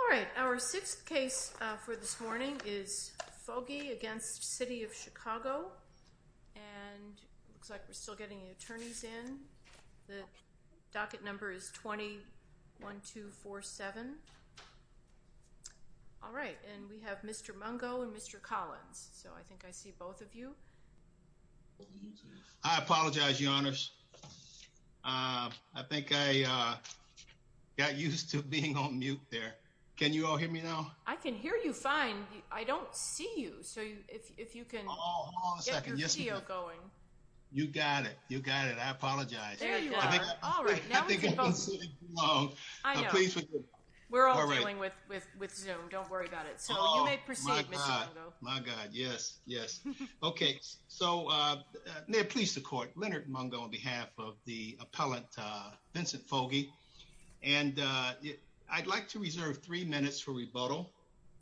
All right, our sixth case for this morning is Foggey against City of Chicago. And it looks like we're still getting attorneys in. The docket number is 21247. All right, and we have Mr. Mungo and Mr. Collins. So I think I see both of you. I apologize, your honors. I think I got used to being on mute there. Can you all hear me now? I can hear you fine. I don't see you. So if you can get your video going. You got it. You got it. I apologize. We're all dealing with Zoom. Don't worry about it. So you may proceed, Mr. Mungo. My God, yes, yes. Okay, so may it please the court, Leonard Mungo on behalf of the appellant, Vincent Foggey. And I'd like to reserve three minutes for rebuttal.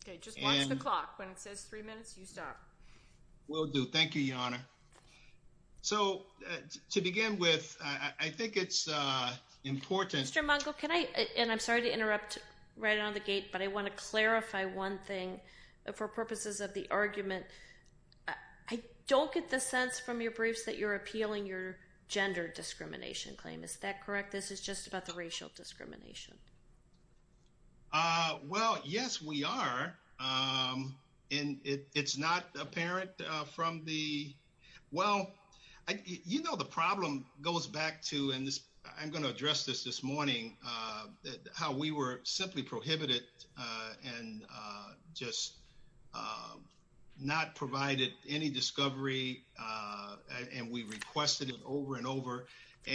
Okay, just watch the clock. When it says three minutes, you stop. Will do. Thank you, your honor. So to begin with, I think it's important. Mr. Mungo, can I, and I'm sorry to interrupt right on the gate, but I want to clarify one thing for purposes of the argument. I don't get the sense from your briefs that you're appealing your gender discrimination claim. Is that correct? This is just about the racial discrimination. Well, yes, we are. And it's not apparent from the, well, you know, the problem goes back to, I'm going to address this this morning, how we were simply prohibited and just not provided any discovery. And we requested it over and over.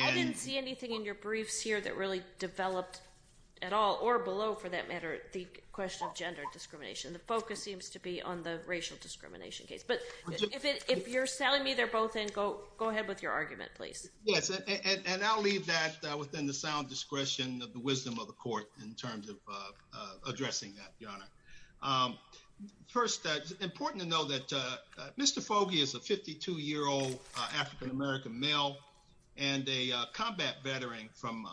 I didn't see anything in your briefs here that really developed at all or below for that matter, the question of gender discrimination. The focus seems to be on the racial discrimination case, but if you're selling me they're both in, go ahead with your argument, please. Yes. And I'll leave that within the sound discretion of the wisdom of the court in terms of addressing that, your honor. First, it's important to know that Mr. Fogey is a 52 year old African-American male and a combat veteran from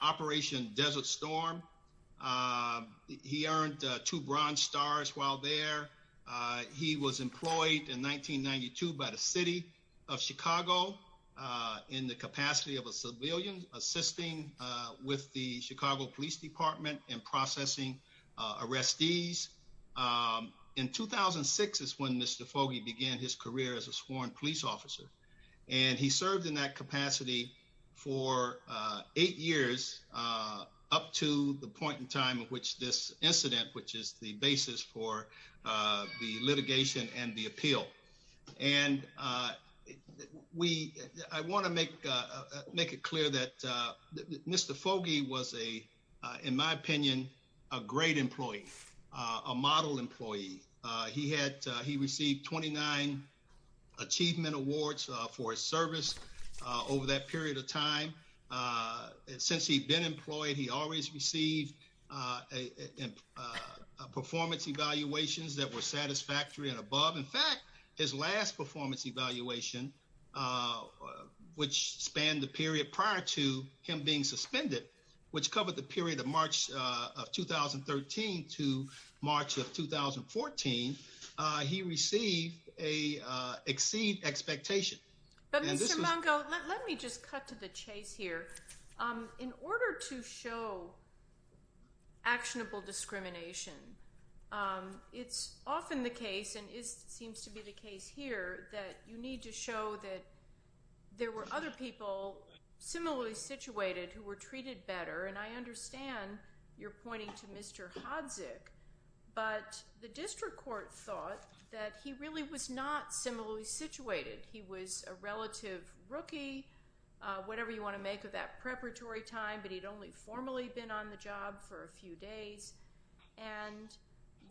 Operation Desert Storm. He earned two bronze stars while there. He was employed in 1992 by the city of Chicago in the capacity of a civilian assisting with the Chicago Police Department and processing arrestees. In 2006 is when Mr. Fogey began his career as a sworn police officer. And he served in that capacity for eight years up to the point in time of which this incident, which is the basis for the litigation and the appeal. And I want to make it clear that Mr. Fogey was a, in my opinion, a great employee, a model employee. He received 29 achievement awards for his service over that period of time. Since he'd been employed, he always received performance evaluations that were satisfactory and above. In fact, his last performance evaluation, which spanned the period prior to him being suspended, which covered the period of March of 2013 to March of 2014, he received a exceed expectation. But Mr. Mungo, let me just cut to the chase here. In order to show actionable discrimination, it's often the case, and it seems to be the case here, that you need to show that there were other people similarly situated who were treated better. And I understand you're pointing to Mr. Hodzik, but the district court thought that he really was not similarly situated. He was a relative rookie, whatever you want to make of that preparatory time, but he'd only formally been on the job for a few days. And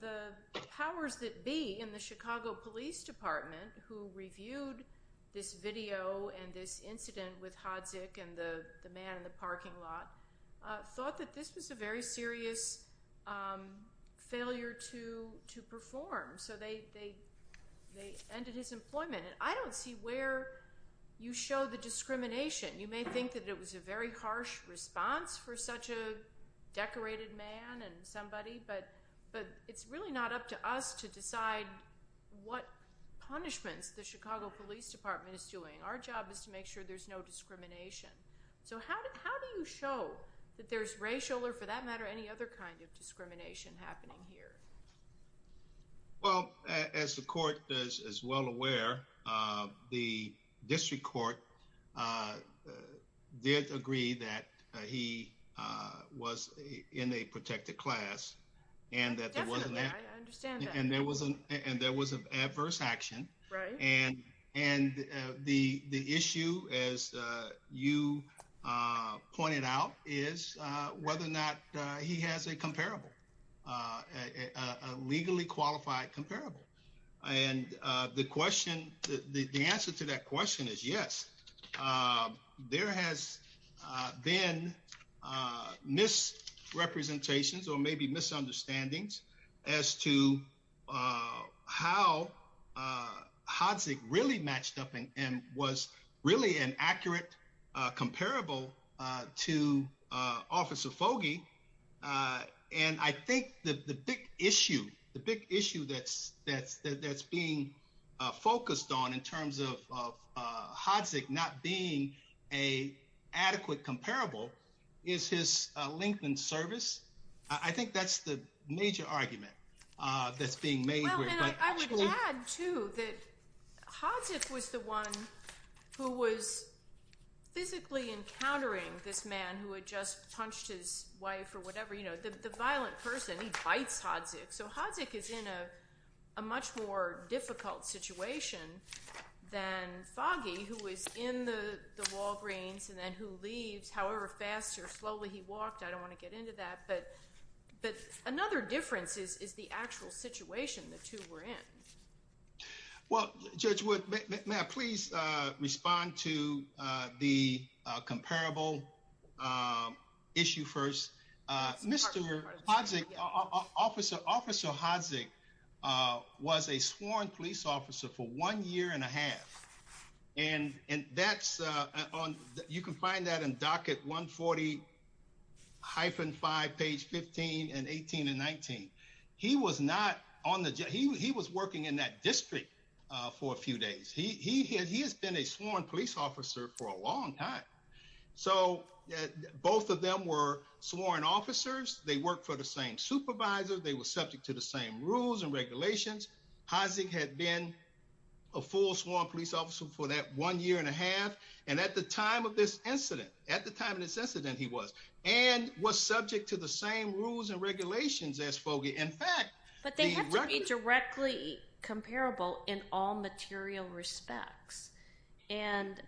the powers that be in the Chicago Police Department, who reviewed this video and this incident with Hodzik and the man in the parking lot, thought that this was a very serious failure to perform. So they ended his employment. And I don't see where you show the discrimination. You may think that it was a very harsh response for such a decorated man and somebody, but it's really not up to us to decide what punishments the Chicago Police Department is doing. Our job is to make sure there's no discrimination. So how do you show that there's racial, or for that matter, any other kind of discrimination happening here? Well, as the court is well aware, the district court did agree that he was in a protected class and that there was an adverse action. And the issue, as you pointed out, is whether or not he has a comparable, a legally qualified comparable. And the answer to that question is yes. There has been misrepresentations or maybe misunderstandings as to how Hodzik really matched up and was really an accurate comparable to Officer Fogey. And I think the big issue that's being focused on in terms of Hodzik not being an adequate comparable is his length in service. I think that's the major argument that's being made here. Well, and I would add too that Hodzik was the one who was physically encountering this man who had just punched his wife or whatever, you know, the violent person. He bites Hodzik. So Hodzik is in a much more difficult situation than Fogey, who was in the Walgreens and then who leaves. However fast or slowly he walked, I don't want to get into that. But another difference is the actual situation the two were in. Well, Judge Wood, may I please respond to the comparable issue first? Mr. Hodzik, Officer Hodzik was a sworn police officer for one year and a half. And that's on, you can find that in docket 140-5, page 15 and 18 and 19. He was not on the, he was working in that district for a few days. He has been a sworn police officer for a long time. So both of them were sworn officers. They worked for the same supervisor. They were subject to the same rules and regulations. Hodzik had been a full sworn police officer for that one year and a half. And at the time of this incident, at the time of this incident, he was, and was subject to the same rules and regulations as Fogey. In fact, But they have to be directly comparable in all material respects. And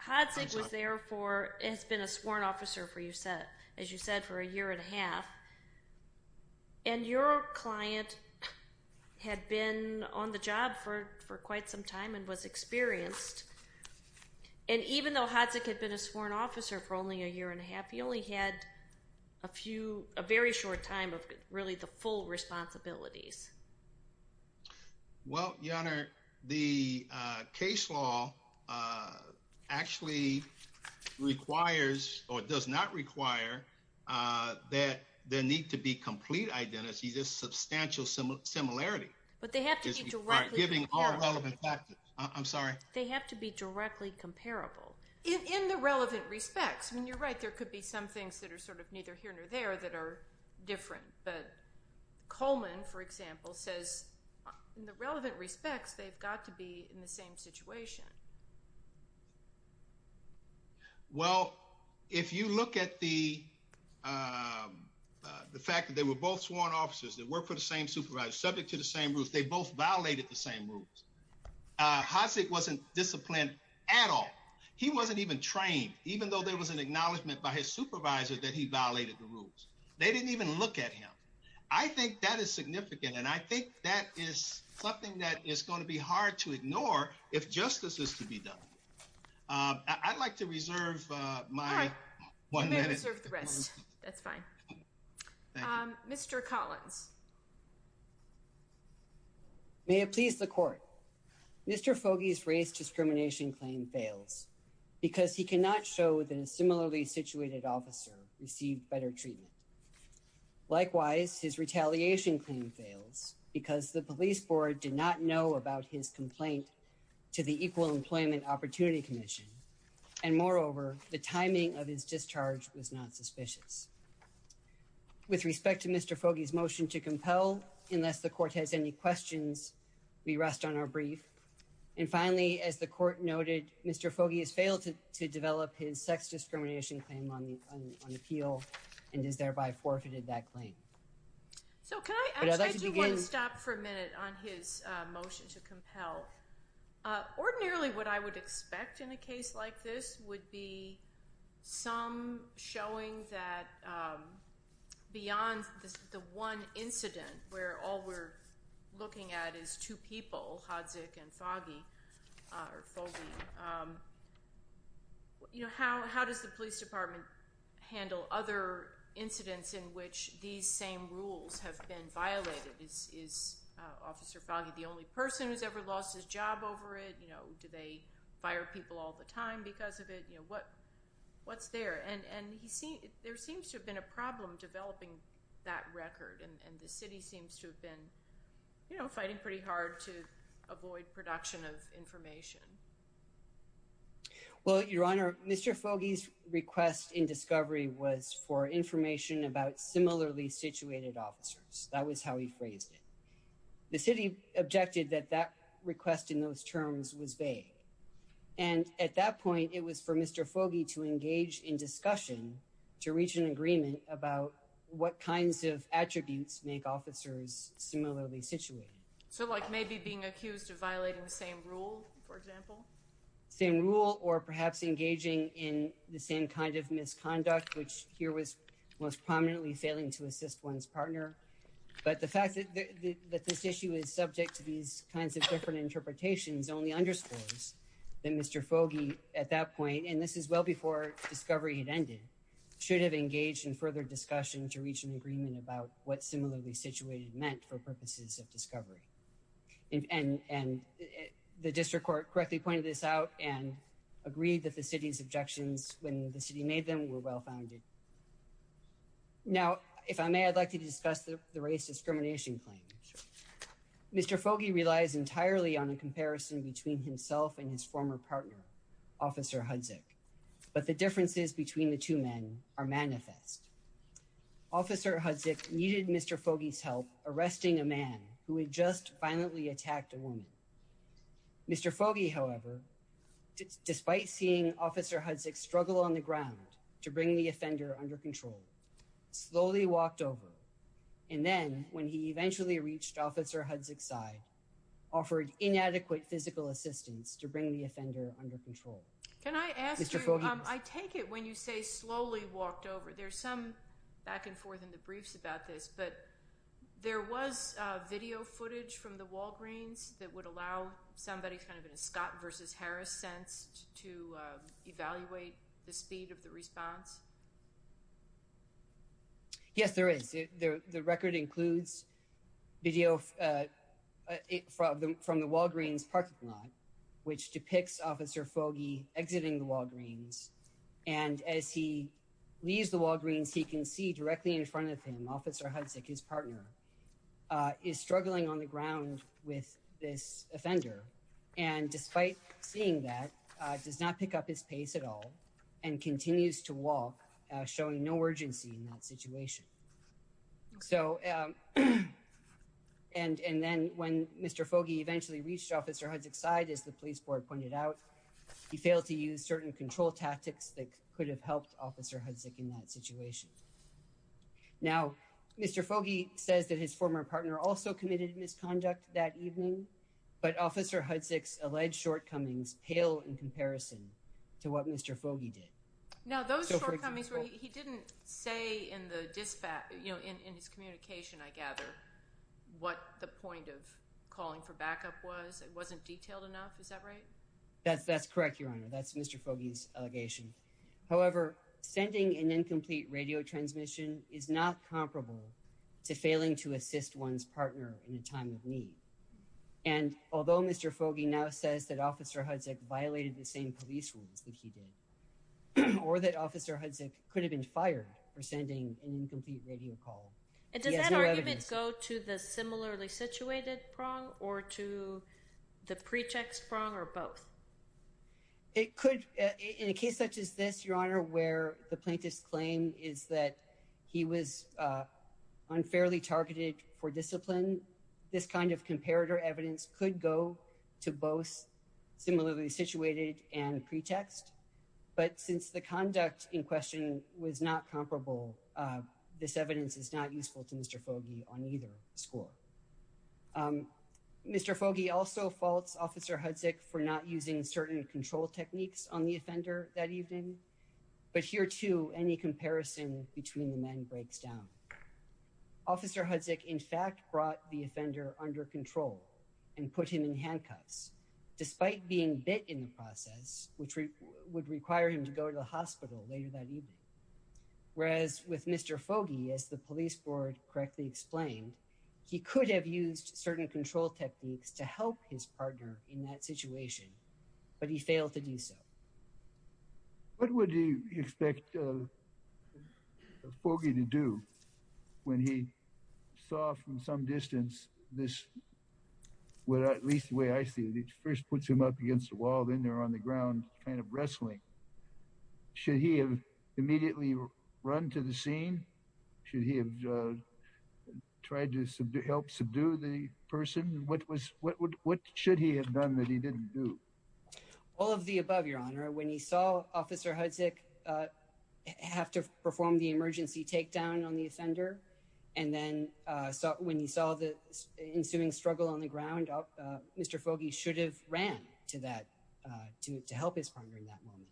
Hodzik was there for, has been a sworn officer for, as you said, for a year and a half. And your client had been on the job for quite some time and was experienced. And even though Hodzik had been a sworn officer for only a year and a half, he only had a few, a very short time of really the full responsibilities. Well, Your Honor, the case law actually requires, or does not require, that there need to be complete identities, just substantial similarity. But they have to be directly comparable. Giving all relevant factors. I'm sorry. They have to be directly comparable. In the relevant respects. I mean, you're right. There could be some things that are sort of neither here nor there that are different. But Coleman, for example, says in the relevant respects, they've got to be in the same situation. Well, if you look at the, the fact that they were both sworn officers that worked for the same supervisor, subject to the same rules, they both violated the same rules. Hodzik wasn't disciplined at all. He wasn't even trained. Even though there was an acknowledgement by his supervisor that he violated the rules. They didn't even look at him. I think that is significant. And I think that is something that is going to be hard to ignore if justice is to be done. I'd like to reserve my one minute. You may reserve the rest. That's fine. Mr. Collins. May it please the court. Mr. Foggy's race discrimination claim fails. Because he cannot show that a similarly situated officer received better treatment. Likewise, his retaliation claim fails because the police board did not know about his complaint to the Equal Employment Opportunity Commission. And moreover, the timing of his discharge was not suspicious. With respect to Mr. Foggy's motion to discharge, unless the court has any questions, we rest on our brief. And finally, as the court noted, Mr. Foggy has failed to develop his sex discrimination claim on appeal and has thereby forfeited that claim. So can I ask that you would stop for a minute on his motion to compel. Ordinarily, what I would expect in a case like this would be some showing that beyond the one incident where all we're looking at is two people, Hodzik and Foggy, or Foggy, you know, how does the police department handle other incidents in which these same rules have been violated? Is Officer Foggy the only person who's ever lost his job over it? You know, do they fire people all the time because of it? You know, what's there? And there seems to have been a problem developing that record. And the city seems to have been, you know, fighting pretty hard to avoid production of information. Well, Your Honor, Mr. Foggy's request in discovery was for information about similarly situated officers. That was how he phrased it. The city objected that that request in those terms was vague. And at that point, it was for Mr. Foggy to engage in discussion, to reach an agreement about what kinds of attributes make officers similarly situated. So like maybe being accused of violating the same rule, for example? Same rule or perhaps engaging in the same kind of misconduct, which here was most prominently failing to assist one's partner. But the fact that this issue is subject to these kinds of different interpretations only underscores that Mr. Foggy at that point, and this is well before discovery had ended, should have engaged in further discussion to reach an agreement about what similarly situated meant for purposes of discovery. And the district court correctly pointed this out and agreed that the city's objections when the city made them were well-founded. Now, if I may, I'd like to discuss the race discrimination claim. Sure. Mr. Foggy relies entirely on a comparison between himself and his former partner, Officer Hudzik, but the differences between the two men are manifest. Officer Hudzik needed Mr. Foggy's help arresting a man who had just violently attacked a woman. Mr. Foggy, however, despite seeing Officer Hudzik struggle on the ground to bring the offender under control, slowly walked over. And then when he eventually reached Officer Hudzik's side, offered inadequate physical assistance to bring the offender under control. Can I ask you, I take it when you say slowly walked over, there's some back and forth in the briefs about this, but there was video footage from the Walgreens that would allow somebody kind of in a Scott versus Harris sense to evaluate the speed of the response. Yes, there is. The record includes video from the Walgreens parking lot, which depicts Officer Foggy exiting the Walgreens. And as he leaves the Walgreens, he can see directly in front of him, Officer Hudzik, his partner, is struggling on the ground with this offender. And despite seeing that, does not pick up his pace at all and continues to walk, showing no urgency in that situation. So and then when Mr. Foggy eventually reached Officer Hudzik's side, as the police board pointed out, he failed to use certain control tactics that could have helped Officer Hudzik in that situation. Now, Mr. Foggy says that his former partner also committed misconduct that evening, but Officer Hudzik's alleged shortcomings pale in comparison to what Mr. Foggy did. Now, those shortcomings, he didn't say in the dispatch, you know, in his communication, I gather, what the point of calling for backup was. It wasn't detailed enough. Is that right? That's that's correct, Your Honor. That's Mr. Foggy's allegation. However, sending an incomplete radio transmission is not comparable to failing to assist one's partner in a time of need. And although Mr. Foggy now says that Officer Hudzik violated the same police rules that he did, or that Officer Hudzik could have been fired for sending an incomplete radio call. And does that argument go to the similarly situated prong or to the pretext prong or both? It could, in a case such as this, Your Honor, where the plaintiff's claim is that he was unfairly targeted for discipline, this kind of comparator evidence could go to both similarly situated and pretext. But since the conduct in question was not comparable, this evidence is not useful to Mr. Foggy on either score. Mr. Foggy also faults Officer Hudzik for not using certain control techniques on the offender that evening. But here, too, any comparison between the men breaks down. Officer Hudzik, in fact, brought the offender under control and put him in handcuffs. Despite being bit in the process, which would require him to go to the hospital later that evening. Whereas with Mr. Foggy, as the police board correctly explained, he could have used certain control techniques to help his partner in that situation, but he failed to do so. What would you expect Foggy to do when he saw from some distance this, well, at least the way I see it, he first puts him up against the wall, then they're on the ground kind of wrestling. Should he have immediately run to the scene? Should he have tried to help subdue the person? What should he have done that he didn't do? All of the above, Your Honor. When he saw Officer Hudzik have to perform the emergency takedown on the offender and then when he saw the ensuing struggle on the ground, Mr. Foggy should have ran to help his partner in that moment.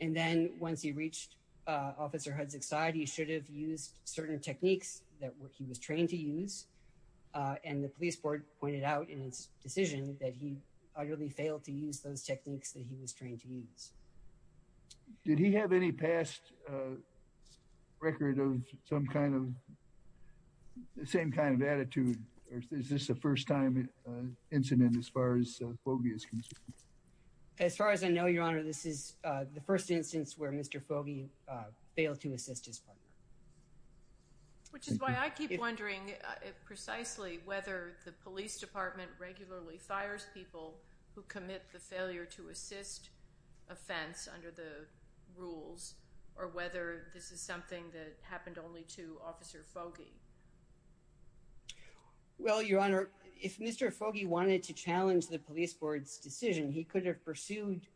And then once he reached Officer Hudzik's side, he should have used certain techniques that he was trained to use. And the police board pointed out in its decision that he utterly failed to use those techniques that he was trained to use. Did he have any past record of some kind of, the same kind of attitude? Or is this the first time incident as far as Foggy is concerned? As far as I know, Your Honor, this is the first instance where Mr. Foggy failed to assist his partner. Which is why I keep wondering precisely whether the police department regularly fires people who commit the failure to assist offense under the rules or whether this is something that happened only to Officer Foggy. Well, Your Honor, if Mr. Foggy wanted to challenge the police board's decision, he could have pursued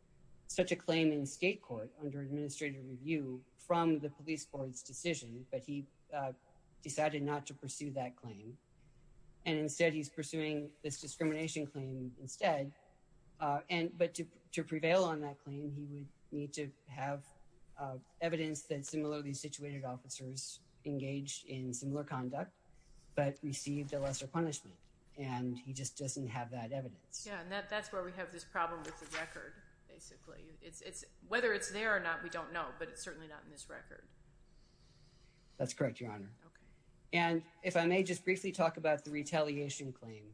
such a claim in state court under administrative review from the police board's decision, but he decided not to pursue that claim. And instead, he's pursuing this discrimination claim instead. But to prevail on that claim, he would need to have evidence that similarly situated officers engaged in similar conduct, but received a lesser punishment. And he just doesn't have that evidence. Yeah, and that's where we have this problem with the record, basically. Whether it's there or not, we don't know, but it's certainly not in this record. That's correct, Your Honor. Okay. And if I may just briefly talk about the retaliation claim.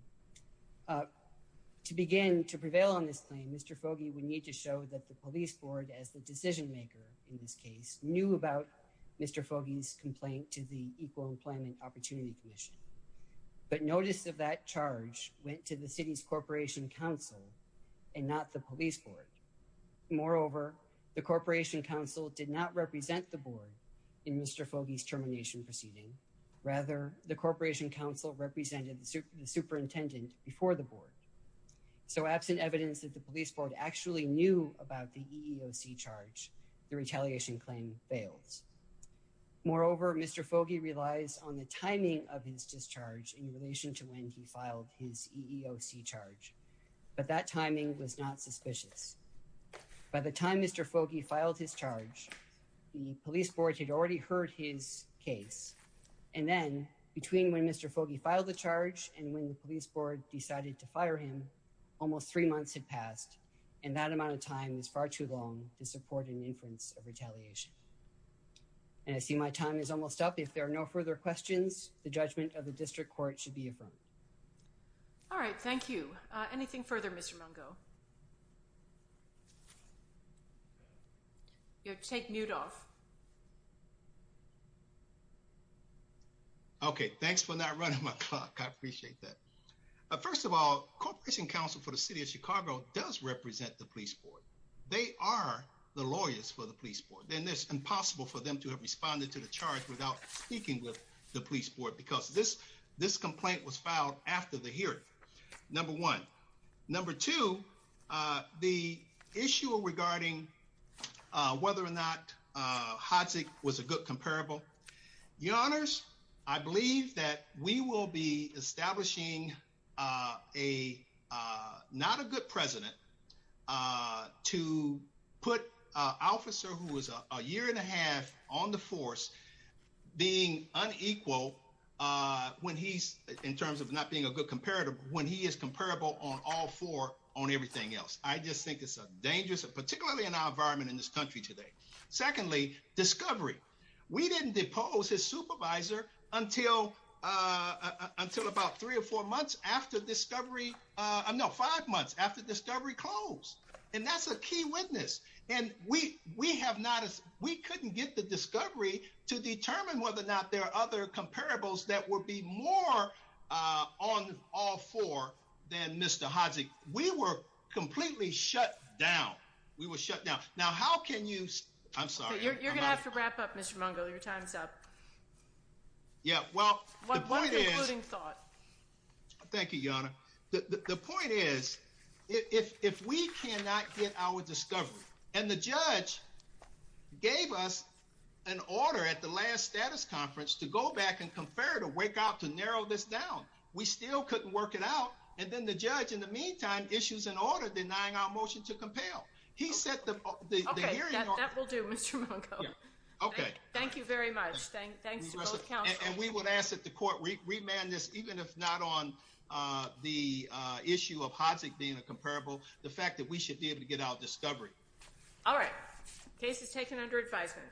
To begin to prevail on this claim, Mr. Foggy would need to show that the police board as the decision maker in this case knew about Mr. Foggy's complaint to the Equal Employment Opportunity Commission. But notice of that charge went to the city's corporation council and not the police board. Moreover, the corporation council did not represent the board in Mr. Foggy's termination proceeding. Rather, the corporation council represented the superintendent before the board. So absent evidence that the police board actually knew about the EEOC charge, the retaliation claim fails. Moreover, Mr. Foggy relies on the timing of his discharge in relation to when he filed his EEOC charge. But that timing was not suspicious. By the time Mr. Foggy filed his charge, the police board had already heard his case. And then between when Mr. Foggy filed the charge and when the police board decided to fire him, almost three months had passed. And that amount of time is far too long to support an inference of retaliation. And I see my time is almost up. If there are no further questions, the judgment of the district court should be affirmed. All right, thank you. Anything further, Mr. Mungo? You have to take mute off. Okay, thanks for not running my clock. I appreciate that. First of all, corporation council for the city of Chicago does represent the police board. They are the lawyers for the police board. Then it's impossible for them to have responded to the charge without speaking with the police board because this complaint was filed after the hearing, number one. Number two, the issue regarding whether or not Hatzik was a good comparable. Your honors, I believe that we will be establishing not a good president to put an officer who was a year and a half on the force being unequal when he's in terms of not being a good comparator, when he is comparable on all four on everything else. I just think it's a dangerous, particularly in our environment in this country today. Secondly, discovery. We didn't depose his supervisor until about three or four months after discovery. No, five months after discovery closed. And that's a key witness. And we couldn't get the discovery to determine whether or not there are other comparables that would be more on all four than Mr. Hatzik. We were completely shut down. We were shut down. Now, how can you... I'm sorry. You're gonna have to wrap up, Mr. Mungo. Your time's up. Yeah, well, the point is... One concluding thought. Thank you, your honor. The point is, if we cannot get our discovery and the judge gave us an order at the last status conference to go back and confer to wake up, to narrow this down, we still couldn't work it out. And then the judge in the meantime, issues an order denying our motion to compel. He set the hearing... That will do, Mr. Mungo. Okay. Thank you very much. Thanks to both counsel. And we would ask that the court remand this, even if not on the issue of Hatzik being a comparable, the fact that we should be able to get our discovery. All right, case is taken under advisement.